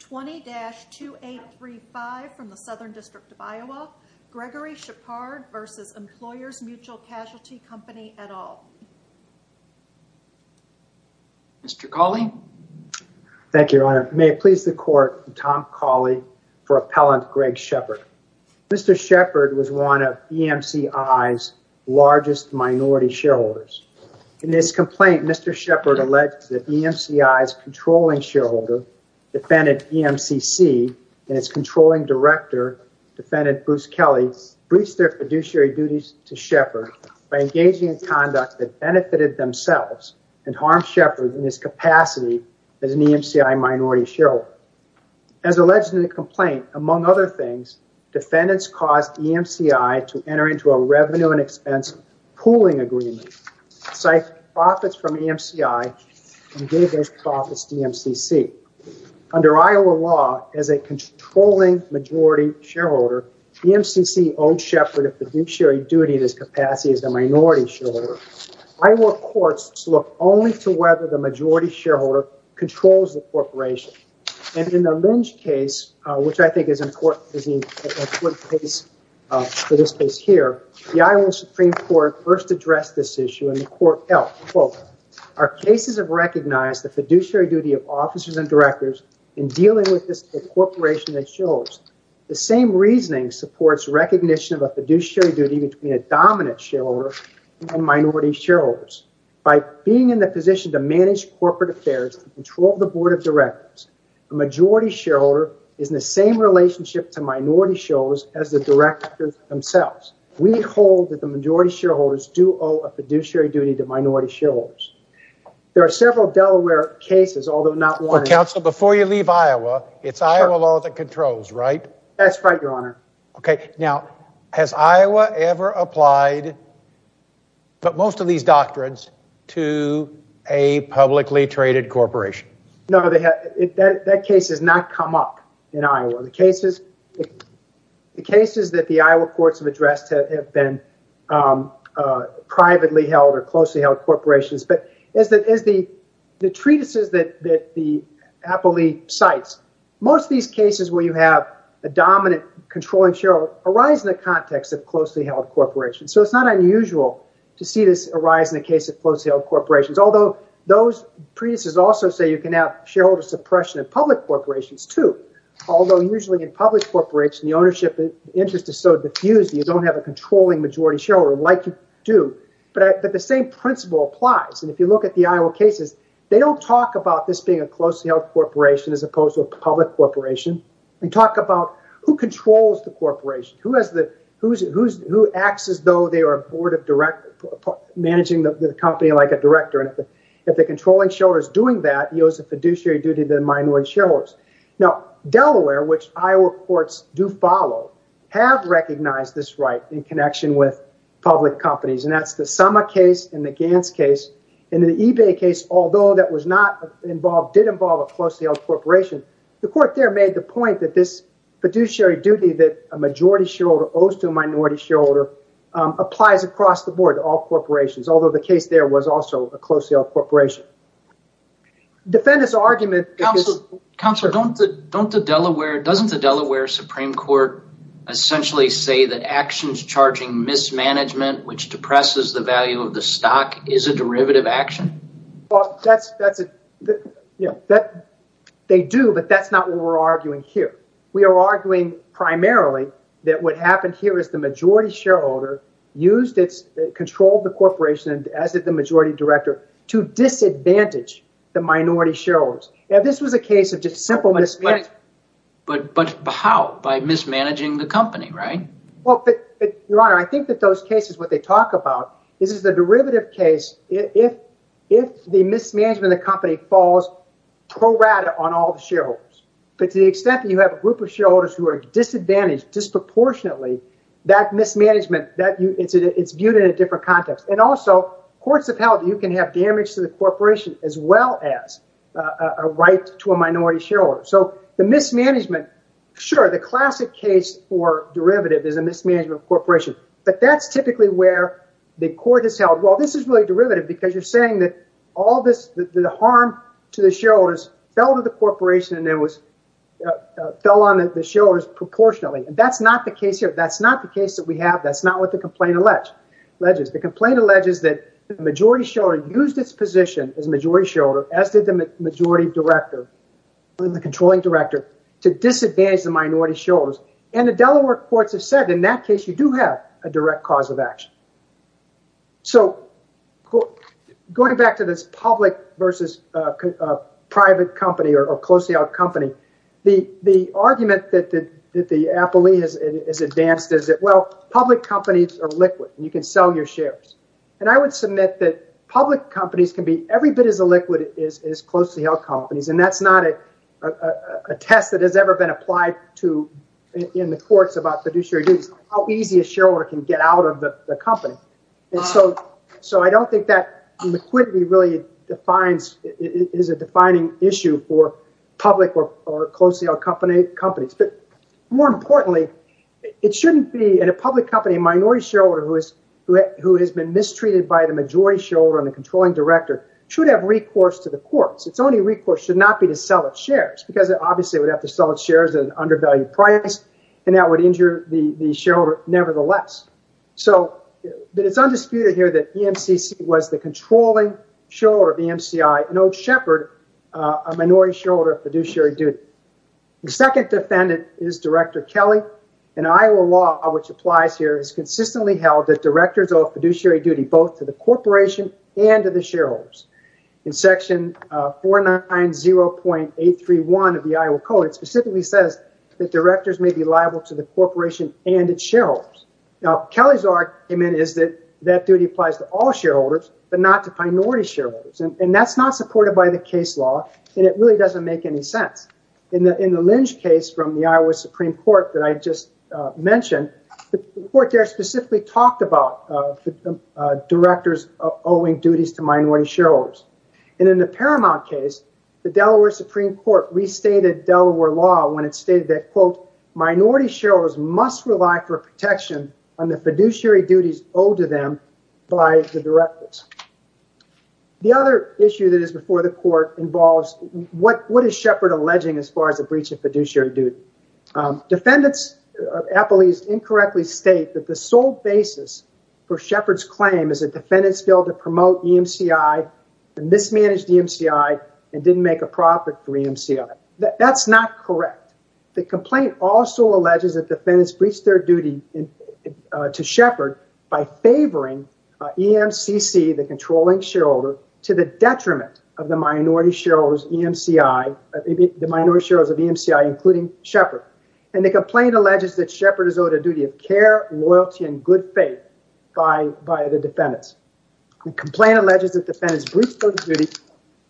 20-2835 from the Southern District of Iowa. Gregory Shepard v. Employers Mutual Casualty Company, et al. Mr. Cawley. Thank you, Your Honor. May it please the Court, I'm Tom Cawley for Appellant Greg Shepard. Mr. Shepard was one of EMCI's largest minority shareholders. In his complaint, Mr. Shepard alleged that EMCI's controlling shareholder, defendant EMCC, and its controlling director, defendant Bruce Kelly, breached their fiduciary duties to Shepard by engaging in conduct that benefited themselves and harmed Shepard in his capacity as an EMCI minority shareholder. As alleged in the complaint, among other things, defendants caused EMCI to enter into a revenue and expense pooling agreement, siphoned profits from EMCI, and gave those profits to EMCC. Under Iowa law, as a controlling majority shareholder, EMCC owed Shepard a fiduciary duty in his capacity as a minority shareholder. Iowa courts look only to whether the majority shareholder controls the corporation. And in the Lynch case, which I think is an important case for this case here, the Iowa Supreme Court first addressed this issue and the court held, quote, our cases have recognized the fiduciary duty of officers and directors in dealing with this corporation that shows the same reasoning supports recognition of a fiduciary duty between a dominant shareholder and minority shareholders. By being in the position to manage corporate affairs and control the board of directors, a majority shareholder is in the same relationship to minority shareholders as the directors themselves. We hold that the majority shareholders do owe a fiduciary duty to minority shareholders. There are several Delaware cases, although not one- But counsel, before you leave Iowa, it's Iowa law that controls, right? That's right, your honor. Okay. Now, has Iowa ever applied, but most of these doctrines, to a publicly traded corporation? No, that case has not come up in Iowa. The cases that the Iowa courts have addressed have been privately held or closely held corporations. But as the treatises that the appellee cites, most of these cases where you have a dominant controlling shareholder arise in the context of closely held corporations. So it's not unusual to see this arise in the case of closely held corporations. Although those treatises also say you can have shareholder suppression in public corporations too. Although usually in public corporations, the ownership interest is so diffused that you don't have a controlling majority shareholder like you do. But the same principle applies. And if you look at the Iowa cases, they don't talk about this being a closely held corporation as opposed to a public corporation. They talk about who controls the director. And if the controlling shareholder is doing that, he owes a fiduciary duty to the minority shareholders. Now, Delaware, which Iowa courts do follow, have recognized this right in connection with public companies. And that's the Sama case and the Gantz case. In the eBay case, although that did involve a closely held corporation, the court there made the point that this fiduciary duty that a majority shareholder owes to a minority shareholder applies across the board to all corporations, although the case there was also a closely held corporation. Defendant's argument... Counselor, doesn't the Delaware Supreme Court essentially say that actions charging mismanagement, which depresses the value of the stock, is a derivative action? They do, but that's not what we're arguing here. We are arguing primarily that what happened here is the majority shareholder controlled the corporation as the majority director to disadvantage the minority shareholders. Now, this was a case of just simple mismanagement. But how? By mismanaging the company, right? Well, Your Honor, I think that those cases, what they talk about is the derivative case, if the mismanagement of the company falls pro rata on all the shareholders. But to the extent that you have a group of shareholders who are disadvantaged disproportionately, that mismanagement, it's viewed in a different context. And also, courts have held that you can have damage to the corporation as well as a right to a minority shareholder. So the mismanagement, sure, the classic case for derivative is a mismanagement of a corporation. But that's typically where the court has held, well, this is really derivative because you're saying that the harm to the shareholders fell to the corporation and it fell on the shareholders proportionately. And that's not the case here. That's not the case that we have. That's not what the complaint alleges. The complaint alleges that the majority shareholder used its position as majority shareholder, as did the majority director, the controlling director, to disadvantage the minority shareholders. And the Delaware courts have said, in that case, you do have a direct cause of action. So going back to this public versus private company or closely held company, the argument that the appellee has advanced is that, well, public companies are liquid and you can sell your shares. And I would submit that public companies can be every bit as illiquid as closely held companies. And that's not a test that has ever been applied to in the courts about how easy a shareholder can get out of the company. And so I don't think that liquidity really defines is a defining issue for public or closely held company companies. But more importantly, it shouldn't be in a public company, a minority shareholder who has been mistreated by the majority shareholder and the controlling director should have recourse to the courts. It's only recourse should not be to sell its shares because it obviously would have to sell its shares at an undervalued price and that would injure the shareholder nevertheless. So it's undisputed here that the MCC was the controlling shareholder of the MCI, an old shepherd, a minority shareholder of fiduciary duty. The second defendant is Director Kelly and Iowa law, which applies here, is consistently held that directors of fiduciary duty both to the corporation and to the shareholders in section 490.831 of the Iowa code. It specifically says that directors may be liable to the corporation and its shareholders. Now, Kelly's argument is that that duty applies to all shareholders, but not to minority shareholders. And that's not supported by the case law, and it really doesn't make any sense. In the Lynch case from the Iowa Supreme Court that I just mentioned, the court there specifically talked about directors owing duties to minority shareholders. And in the Paramount case, the Delaware Supreme Court restated Delaware law when it stated that, quote, minority shareholders must rely for protection on the fiduciary duties owed to them by the directors. The other issue that is before the court involves what is Shepherd alleging as far as the breach of fiduciary duty. Defendants of Apple East incorrectly state that the sole basis for Shepherd's claim is a defendant's bill to promote EMCI, a mismanaged EMCI, and didn't make a profit for EMCI. That's not correct. The complaint also alleges that defendants breached their duty to Shepherd by favoring EMCC, the controlling shareholder, to the detriment of the minority shareholders of EMCI, including Shepherd. And the complaint alleges that Shepherd is owed a duty of care, loyalty, and good faith by the defendants. The complaint alleges that defendants breached those duties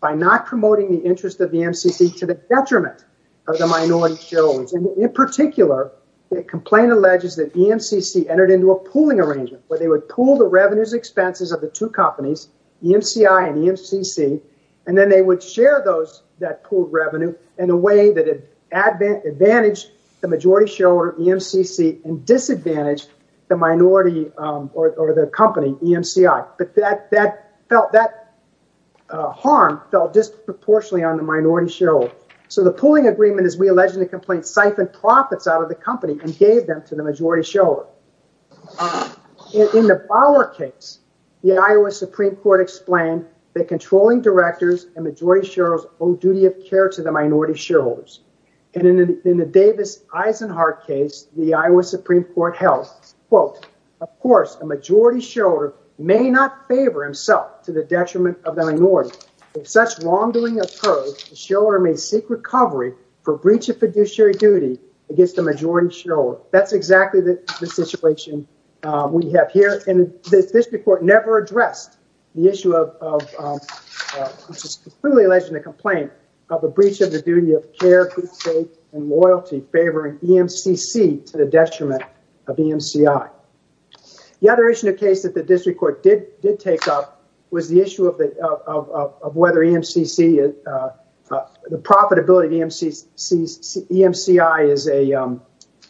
by not promoting the interest of EMCC to the detriment of the minority shareholders. And in particular, the complaint alleges that EMCC entered into a pooling arrangement where they would pool the revenues and expenses of two companies, EMCI and EMCC, and then they would share that pooled revenue in a way that had advantaged the majority shareholder, EMCC, and disadvantaged the minority or the company, EMCI. But that harm fell disproportionately on the minority shareholder. So the pooling agreement, as we allege in the complaint, siphoned profits out of the company and gave them to the majority shareholder. In the Bauer case, the Iowa Supreme Court explained that controlling directors and majority shareholders owe duty of care to the minority shareholders. And in the Davis-Eisenhart case, the Iowa Supreme Court held, quote, of course, a majority shareholder may not favor himself to the detriment of the minority. If such wrongdoing occurs, the shareholder may seek recovery for breach of fiduciary duty against the majority shareholder. That's exactly the situation we have here. And the district court never addressed the issue of, which is clearly alleged in the complaint, of a breach of the duty of care, good faith, and loyalty favoring EMCC to the detriment of EMCI. The other issue in the case that the district court did take up was the issue of whether the profitability of EMCI is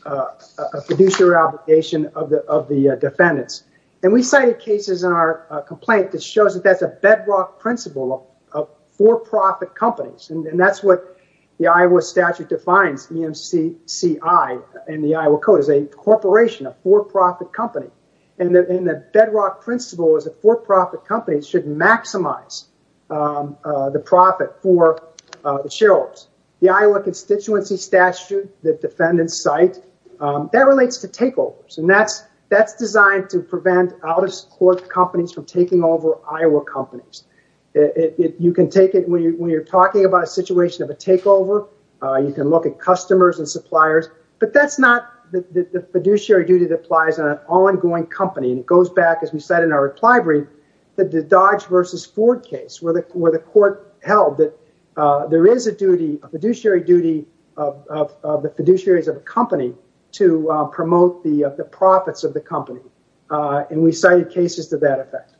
a fiduciary obligation of the defendants. And we cited cases in our complaint that shows that that's a bedrock principle of for-profit companies. And that's what the Iowa statute defines EMCI in the Iowa Code as a corporation, a for-profit company. And the bedrock principle is that for-profit companies should maximize the profit for the shareholders. The Iowa constituency statute that defendants cite, that relates to takeovers. And that's designed to prevent out-of-court companies from taking over Iowa companies. You can take it when you're talking about a situation of a takeover. You can look at customers and suppliers. But that's not the fiduciary duty that applies on an ongoing company. And it goes back, as we said in our reply brief, that the Dodge versus Ford case, where the court held that there is a fiduciary duty of the fiduciaries of a company to promote the profits of the company. And we cited cases to that effect.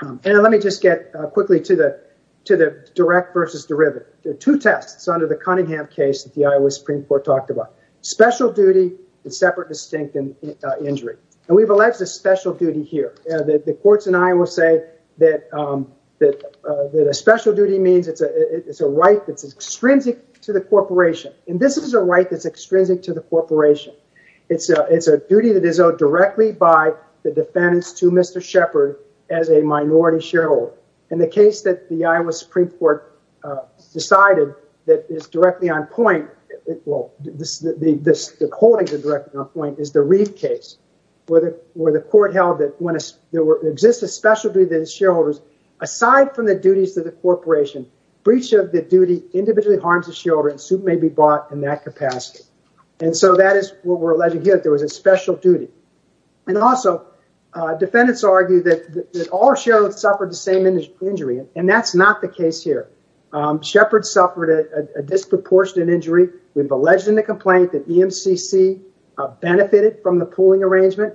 And let me just get quickly to the direct versus derivative. There are two tests under the Cunningham case that the Iowa Supreme Court talked about. Special duty and separate distinct injury. And we've alleged a special duty here. The courts in Iowa say that a special duty means it's a right that's extrinsic to the corporation. And this is a right that's extrinsic to the corporation. It's a duty that is owed directly by the defendants to Mr. Shepard as a minority shareholder. And the case that the Iowa Supreme Court decided that is directly on point, well, the holdings are directly on point, is the Reeve case, where the court held that when there exists a special duty to the shareholders, aside from the duties of the corporation, breach of the duty individually harms the shareholders who may be brought in that capacity. And so that is what we're alleging here, that there was a special duty. And also, defendants argue that all shareholders suffered the same injury. And that's not the case here. Shepard suffered a disproportionate injury. We've alleged in the complaint that EMCC benefited from the pooling arrangement.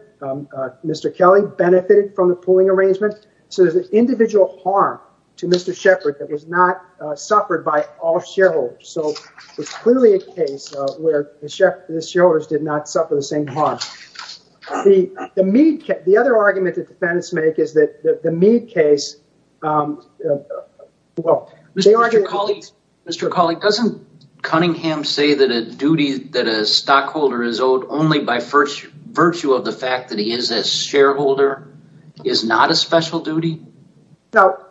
Mr. Kelly benefited from the pooling arrangement. So there's an individual harm to Mr. Shepard that was not suffered by all shareholders. So it's clearly a case where the shareholders did not suffer the same harm. The other argument that defendants make is that the Meade case... Mr. Kelly, doesn't Cunningham say that a duty that a stockholder is owed only by virtue of the fact that he is a shareholder is not a special duty? No.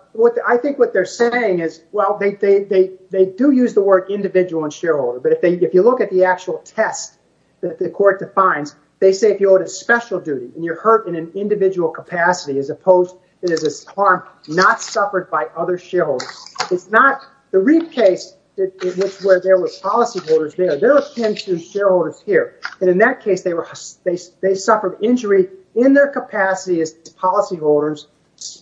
I think what they're saying is, well, they do use the word individual and shareholder, but if you look at the actual test that the court defines, they say if you owe it a special duty, and you're hurt in an individual capacity, as opposed, it is a harm not suffered by other shareholders. It's not the Reeve case, which where there was policyholders there. There are 10 true shareholders here. And in that case, they suffered injury in their capacity as policyholders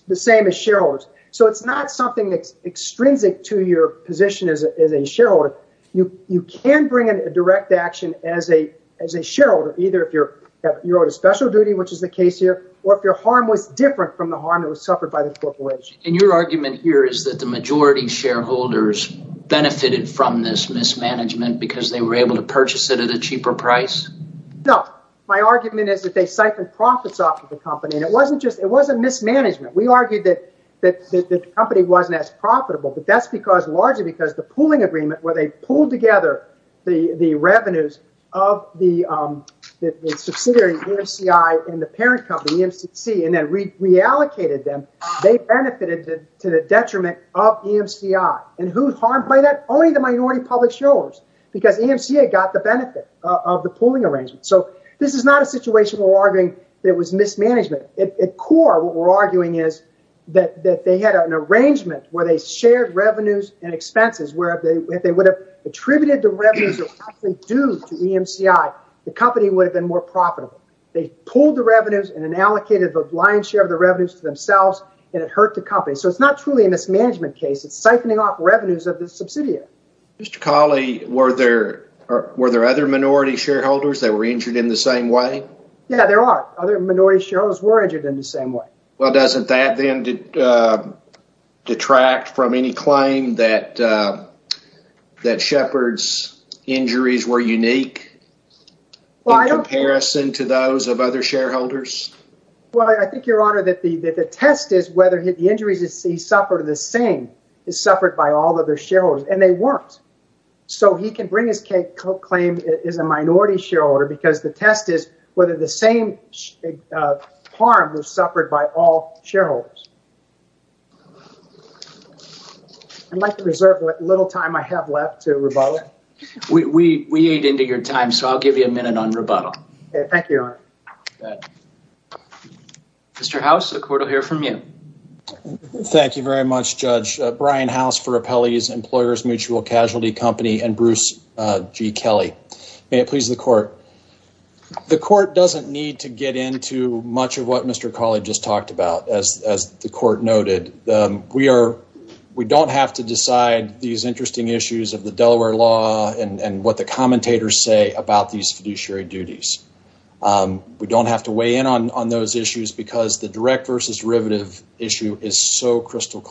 the same as shareholders. So it's not something that's extrinsic to your position as a shareholder. You can bring in a direct action as a shareholder, either if you're owed a special duty, which is the case here, or if your harm was different from the harm that was suffered by the corporation. And your argument here is that the majority shareholders benefited from this mismanagement because they were able to purchase it at a cheaper price? No. My argument is that they siphoned profits off of the company, and it wasn't mismanagement. We argued that the company wasn't as profitable, but that's largely because the pooling agreement where they pooled together the revenues of the subsidiary, EMCI, and the parent company, EMCC, and then reallocated them, they benefited to the detriment of EMCI. And who's harmed by that? Only the minority public shareholders, because EMCA got the benefit of the pooling arrangement. So this is not a situation where we're arguing that it was mismanagement. At core, what we're arguing is that they had an arrangement where they shared revenues and expenses, where if they would have attributed the revenues of the company due to EMCI, the company would have been more profitable. They pooled the revenues and then allocated the lion's share of the revenues to themselves, and it hurt the company. So it's not truly a mismanagement case. It's siphoning off revenues of the subsidiary. Mr. Cawley, were there other minority shareholders that were injured in the same way? Yeah, there are. Other minority shareholders were injured in the same way. Well, doesn't that then detract from any claim that Shepard's injuries were unique in comparison to those of other shareholders? Well, I think, Your Honor, that the test is whether the injuries he suffered are the same as suffered by all other shareholders, and they weren't. So he can bring his claim as a minority shareholder because the test is whether the same harm was suffered by all shareholders. I'd like to reserve the little time I have left to rebuttal. We ate into your time, so I'll give you a minute on rebuttal. Thank you, Your Honor. Mr. House, the court will hear from you. Thank you very much, Judge. Brian House for Appellee's Employers Mutual Casualty Company and Bruce G. Kelly. May it please the court. The court doesn't need to get into much of what Mr. Cawley just talked about, as the court noted. We don't have to decide these interesting issues of the Delaware law and what the commentators say about these fiduciary duties. We don't have to weigh in on those issues because the direct versus derivative issue is so that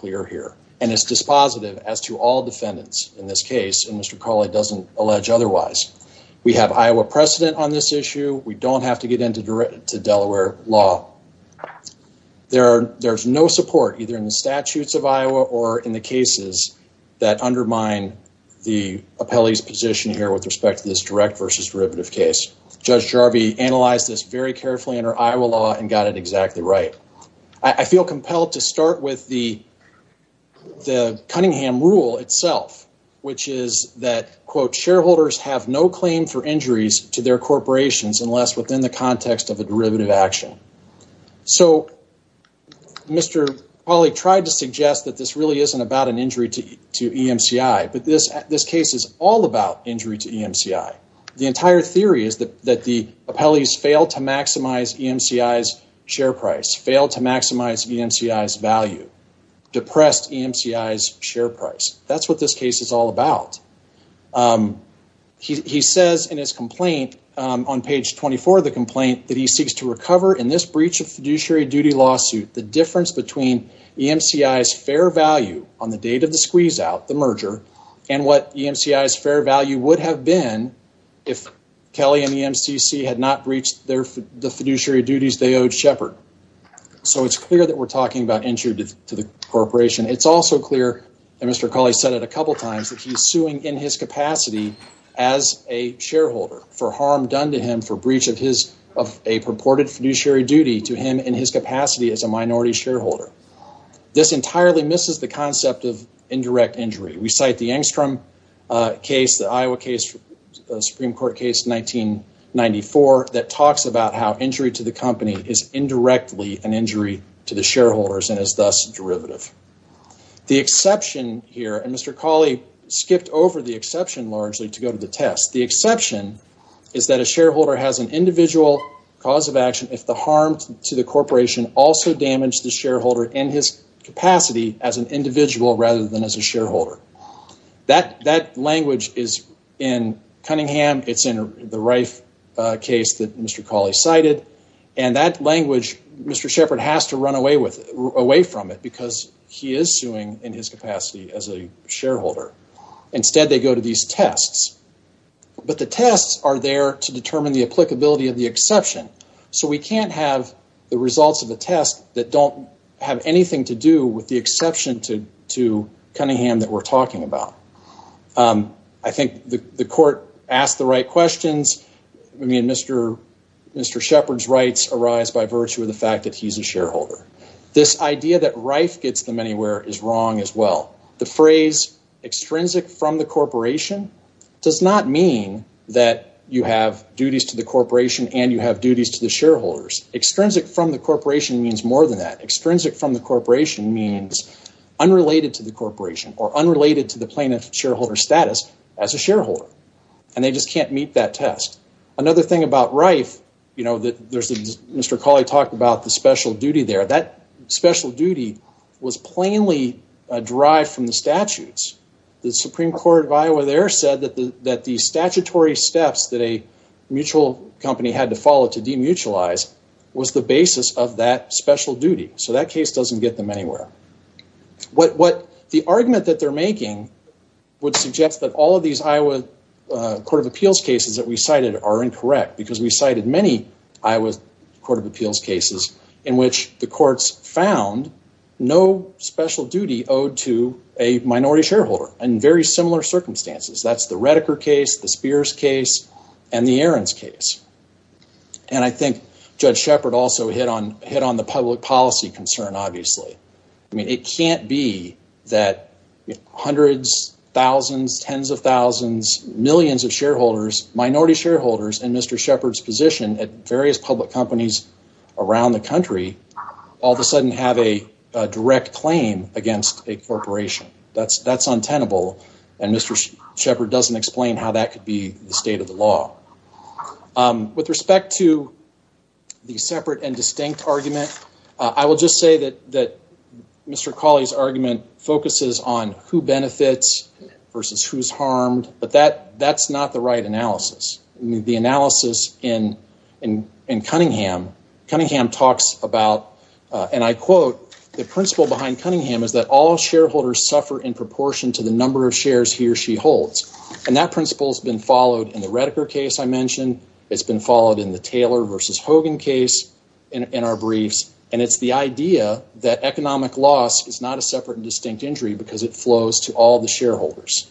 Mr. Cawley doesn't allege otherwise. We have Iowa precedent on this issue. We don't have to get into Delaware law. There's no support either in the statutes of Iowa or in the cases that undermine the appellee's position here with respect to this direct versus derivative case. Judge Jarvie analyzed this very carefully under Iowa law and got it exactly right. I feel compelled to start with the Cunningham rule itself, which is that, quote, shareholders have no claim for injuries to their corporations unless within the context of a derivative action. So Mr. Cawley tried to suggest that this really isn't about an injury to EMCI, but this case is all about injury to EMCI. The entire theory is that the appellees fail to maximize EMCI's share price, fail to maximize EMCI's value, depressed EMCI's share price. That's what this case is all about. He says in his complaint on page 24 of the complaint that he seeks to recover in this breach of fiduciary duty lawsuit the difference between EMCI's fair value on the date of the squeeze out, the merger, and what EMCI's fair value would have been if Kelly and So it's clear that we're talking about injury to the corporation. It's also clear that Mr. Cawley said it a couple times that he's suing in his capacity as a shareholder for harm done to him for breach of his of a purported fiduciary duty to him in his capacity as a minority shareholder. This entirely misses the concept of indirect injury. We cite the Angstrom case, the Iowa case, Supreme Court case 1994 that talks about how injury to the company is indirectly an injury to the shareholders and is thus derivative. The exception here, and Mr. Cawley skipped over the exception largely to go to the test, the exception is that a shareholder has an individual cause of action if the harm to the corporation also damaged the shareholder in his capacity as an individual rather than as a shareholder. That language is in Cunningham, it's in the Reif case that Mr. Cawley cited, and that language Mr. Shepard has to run away from it because he is suing in his capacity as a shareholder. Instead they go to these tests, but the tests are there to determine the applicability of the exception, so we can't have the results of the test that don't have anything to do with the exception to Cunningham that we're talking about. I think the court asked the right questions, I mean Mr. Shepard's rights arise by virtue of the fact that he's a shareholder. This idea that Reif gets them anywhere is wrong as well. The phrase extrinsic from the corporation does not mean that you have duties to the corporation and you have duties to the shareholders. Extrinsic from the corporation means more than that. Extrinsic from the corporation means unrelated to the corporation or unrelated to the plaintiff shareholder status as a shareholder, and they just can't meet that test. Another thing about Reif, Mr. Cawley talked about the special duty there. That special duty was plainly derived from the statutes. The Supreme Court of Iowa there said that the statutory steps that a mutual company had to follow to demutualize was the basis of that special duty, so that case doesn't get them anywhere. The argument that they're making would suggest that all of these Iowa Court of Appeals cases that we cited are incorrect because we cited many Iowa Court of Appeals cases in which the courts found no special duty owed to a minority shareholder in very similar circumstances. That's the Redeker case, the Spears case, and the Ahrens case. I think Judge Shepard also hit on the public policy concern, obviously. It can't be that hundreds, thousands, tens of thousands, millions of minority shareholders in Mr. Shepard's position at various public companies around the country all of a sudden have a direct claim against a corporation. That's untenable, and Mr. Shepard doesn't explain how that could be the state of the law. With respect to the separate and distinct argument, I will just say that Mr. Cawley's argument focuses on who benefits versus who's harmed, but that's not the right analysis. The analysis in Cunningham, Cunningham talks about, and I quote, the principle behind Cunningham is that all shareholders suffer in proportion to the number of shares he or she holds, and that principle has been followed in the Redeker case I mentioned. It's been followed in the Taylor versus Hogan case in our briefs, and it's the idea that economic loss is not a separate and distinct injury because it flows to all the shareholders.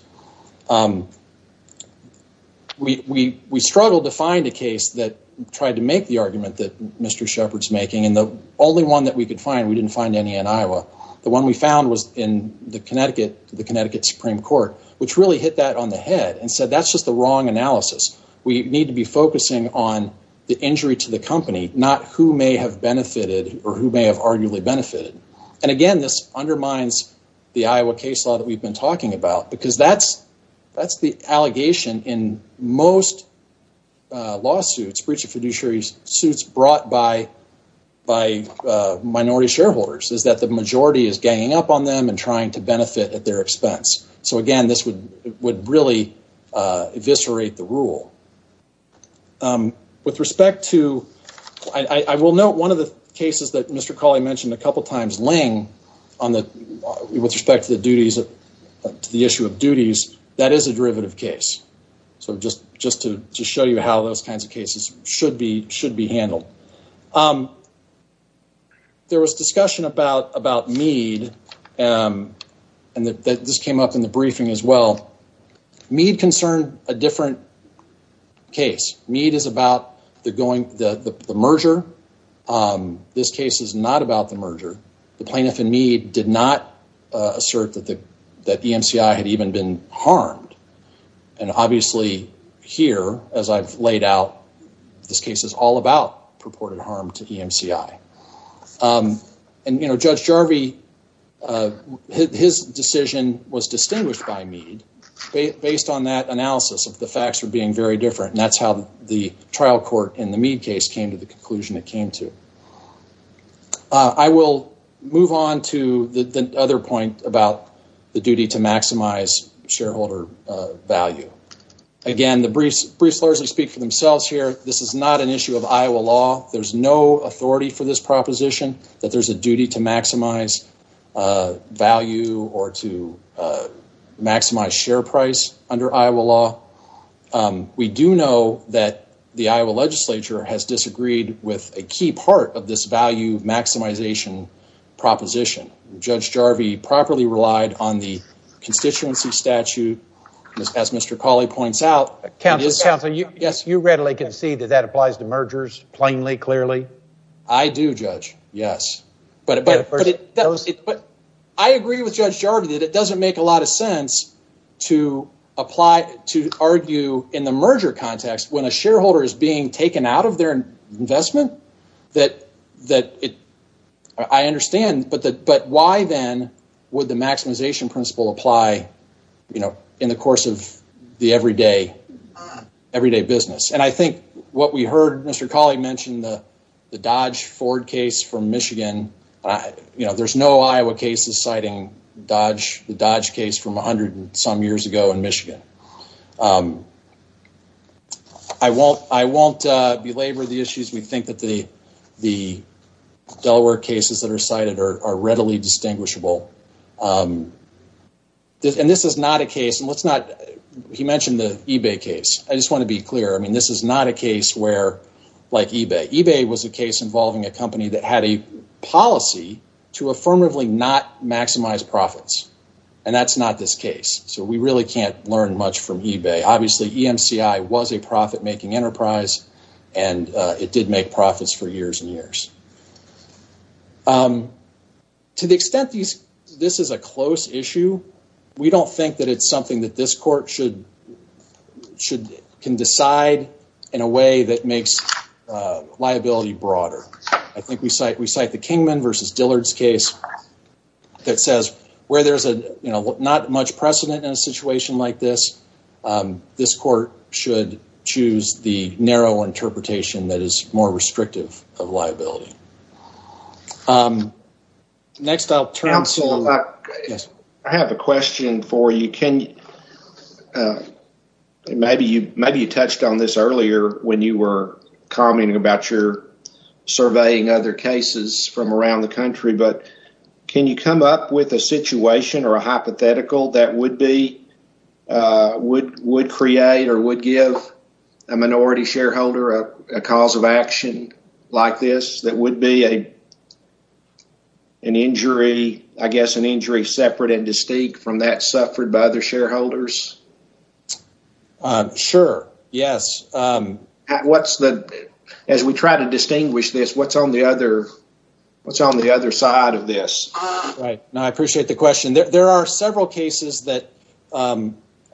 We struggled to find a case that tried to make the argument that Mr. Shepard's making, and the only one that we could find, we didn't find any in Iowa, the one we found was in the Connecticut Supreme Court, which really hit that on the head and said that's just the wrong analysis. We need to be focusing on the injury to the company, not who may have benefited or who may have arguably benefited, and again, this undermines the Iowa case law that we've been talking about because that's the allegation in most lawsuits, breach of fiduciary suits brought by minority shareholders is that the majority is ganging up on them and trying to benefit at their expense. So again, this would really eviscerate the rule. With respect to, I will note one of the cases that Mr. Cawley mentioned a couple times laying on the, with respect to the duties, to the issue of duties, that is a derivative case. So just to show you how those kinds of cases should be handled. There was discussion about Mead, and this came up in the briefing as well. Mead concerned a different case. Mead is about the merger. This case is not about the merger. The plaintiff in Mead did not assert that the EMCI had even been harmed, and obviously here, as I've laid out, this case is all about purported harm to EMCI. And you know, Judge Jarvie, his decision was distinguished by Mead based on that analysis of the facts were being very different, and that's how the trial court in the Mead case came to the conclusion it came to. I will move on to the other point about the duty to maximize shareholder value. Again, the briefs largely speak for themselves here. This is not an issue of Iowa law. There's no authority for this proposition that there's a duty to maximize value or to a key part of this value maximization proposition. Judge Jarvie properly relied on the constituency statute, as Mr. Cawley points out. You readily concede that that applies to mergers plainly, clearly? I do, Judge, yes. But I agree with Judge Jarvie that it doesn't make a lot of investment. I understand, but why then would the maximization principle apply, you know, in the course of the everyday business? And I think what we heard Mr. Cawley mention, the Dodge Ford case from Michigan, you know, there's no Iowa cases citing the Dodge case from 100 and some years ago in Michigan. I won't belabor the issues. We think that the Delaware cases that are cited are readily distinguishable. And this is not a case, and let's not, he mentioned the eBay case. I just want to be clear. I mean, this is not a case where, like eBay. eBay was a case involving a company that had a not maximized profits. And that's not this case. So we really can't learn much from eBay. Obviously, EMCI was a profit-making enterprise and it did make profits for years and years. To the extent this is a close issue, we don't think that it's something that this court should can decide in a way that makes liability broader. I think we cite the Kingman versus Dillard's case that says where there's a, you know, not much precedent in a situation like this, this court should choose the narrow interpretation that is more restrictive of liability. Next, I'll turn to... Counselor, I have a question for you. Maybe you touched on this earlier when you were commenting about your surveying other cases from around the country, but can you come up with a situation or a hypothetical that would create or would give a minority shareholder a cause of action like this that would be an injury, I guess, an injury separate and distinct from that suffered by other shareholders? Sure. Yes. What's the... As we try to distinguish this, what's on the other side of this? Right. No, I appreciate the question. There are several cases that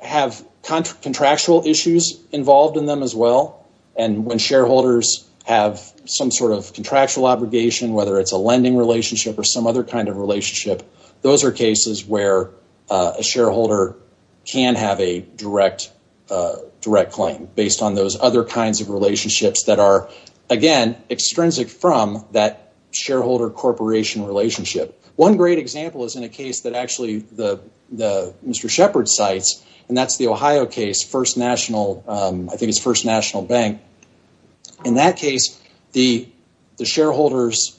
have contractual issues involved in them as well. And when shareholders have some sort of contractual obligation, whether it's a lending relationship or some other kind of relationship, those are cases where a shareholder can have a direct claim based on those other kinds of relationships that are, again, extrinsic from that shareholder-corporation relationship. One great example is in a case that actually Mr. Shepherd cites, and that's the Ohio case, First National, I think it's First National Bank. In that case, the shareholders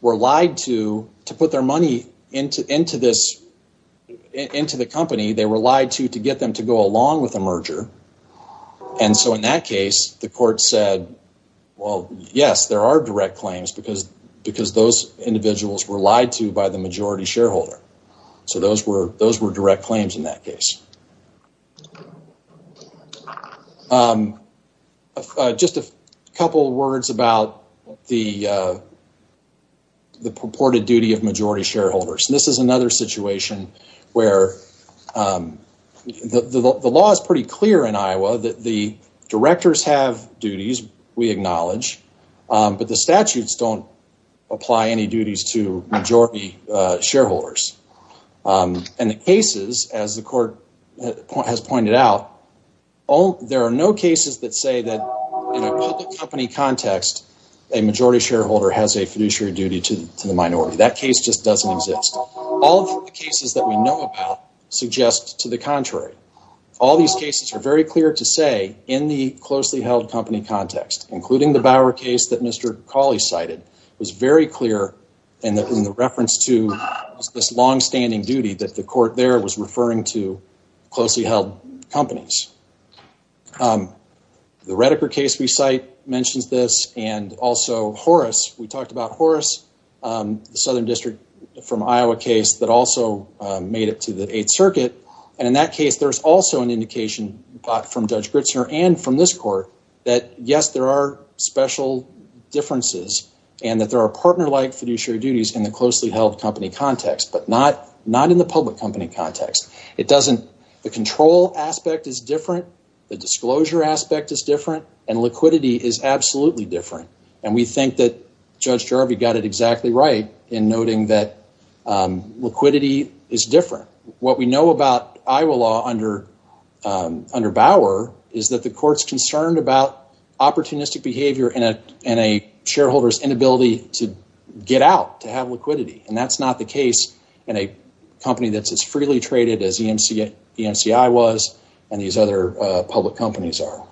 were lied to to put their money into the company. They were lied to to get them to go along with a merger. And so in that case, the court said, well, yes, there are direct claims because those individuals were lied to by the majority shareholder. So those were direct claims in that And this is another situation where the law is pretty clear in Iowa that the directors have duties, we acknowledge, but the statutes don't apply any duties to majority shareholders. And the cases, as the court has pointed out, there are no cases that say that in a public company context, a majority shareholder has a fiduciary duty to the shareholder. That case just doesn't exist. All of the cases that we know about suggest to the contrary. All these cases are very clear to say in the closely held company context, including the Bower case that Mr. Cawley cited, was very clear in the reference to this long-standing duty that the court there was referring to closely held companies. The Redeker case we cite mentions this and also Horace. We talked about Horace, the Southern District from Iowa case that also made it to the Eighth Circuit. And in that case, there's also an indication from Judge Gritzner and from this court that yes, there are special differences and that there are partner-like fiduciary duties in the closely held company context, but not in the public company context. It doesn't. The control aspect is different. The disclosure aspect is different. And liquidity is absolutely different. And we think that Judge Jarvie got it exactly right in noting that liquidity is different. What we know about Iowa law under Bower is that the court's concerned about opportunistic behavior and a shareholder's inability to get out, to have liquidity. And that's not the case in a company that's as freely traded as EMCI was and these other public companies are.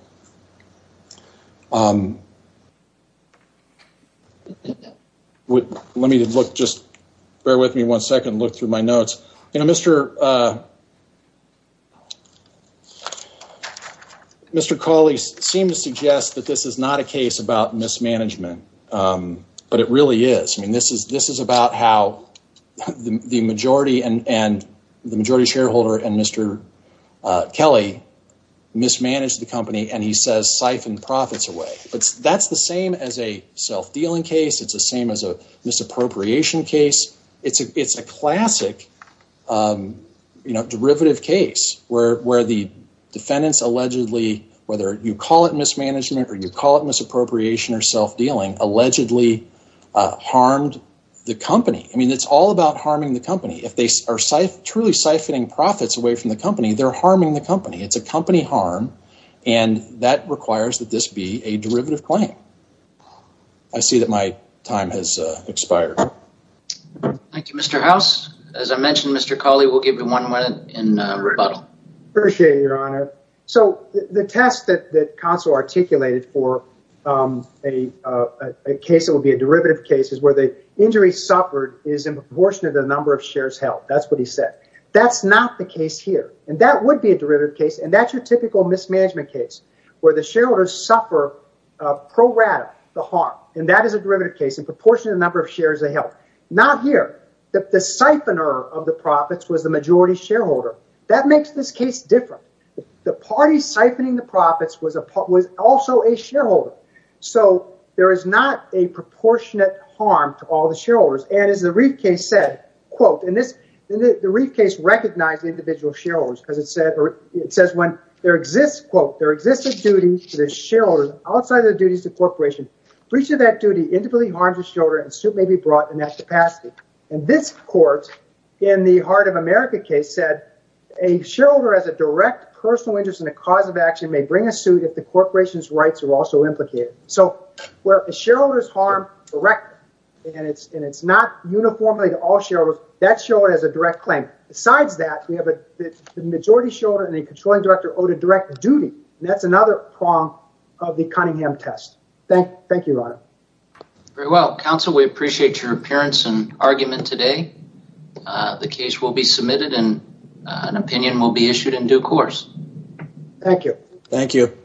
Let me look, just bear with me one second, look through my notes. Mr. Cawley seemed to suggest that this is not a case about mismanagement, but it really is. This is about how the majority shareholder and Mr. Kelly mismanaged the company and he says siphoned profits away. That's the same as a self-dealing case. It's the same as a misappropriation case. It's a classic derivative case where the defendants allegedly, whether you call it misappropriation or self-dealing, allegedly harmed the company. It's all about harming the company. If they are truly siphoning profits away from the company, they're harming the company. It's a company harm and that requires that this be a derivative claim. I see that my time has expired. Thank you, Mr. House. As I mentioned, Mr. Cawley, we'll give you one minute in rebuttal. Appreciate it, Your Honor. So the test that a case that would be a derivative case is where the injury suffered is in proportion to the number of shares held. That's what he said. That's not the case here and that would be a derivative case and that's your typical mismanagement case where the shareholders suffer pro rata the harm and that is a derivative case in proportion to the number of shares they held. Not here. The siphoner of the profits was the majority shareholder. That makes this case different. The party siphoning the profits was also a shareholder. So there is not a proportionate harm to all the shareholders and as the Reif case said, quote, and the Reif case recognized the individual shareholders because it says when there exists, quote, there exists a duty to the shareholders outside of the duties of the corporation. For each of that duty, individually harms the shareholder and so may be brought in that capacity. And this court in the Heart of America case said a shareholder has a personal interest in a cause of action may bring a suit if the corporation's rights are also implicated. So where a shareholder's harm, a record, and it's not uniformly to all shareholders, that shareholder has a direct claim. Besides that, we have a majority shareholder and a controlling director owed a direct duty and that's another prong of the Cunningham test. Thank you, Ron. Very well, counsel, we appreciate your appearance and argument today. The case will be submitted and an opinion will be issued in due course. Thank you. Thank you.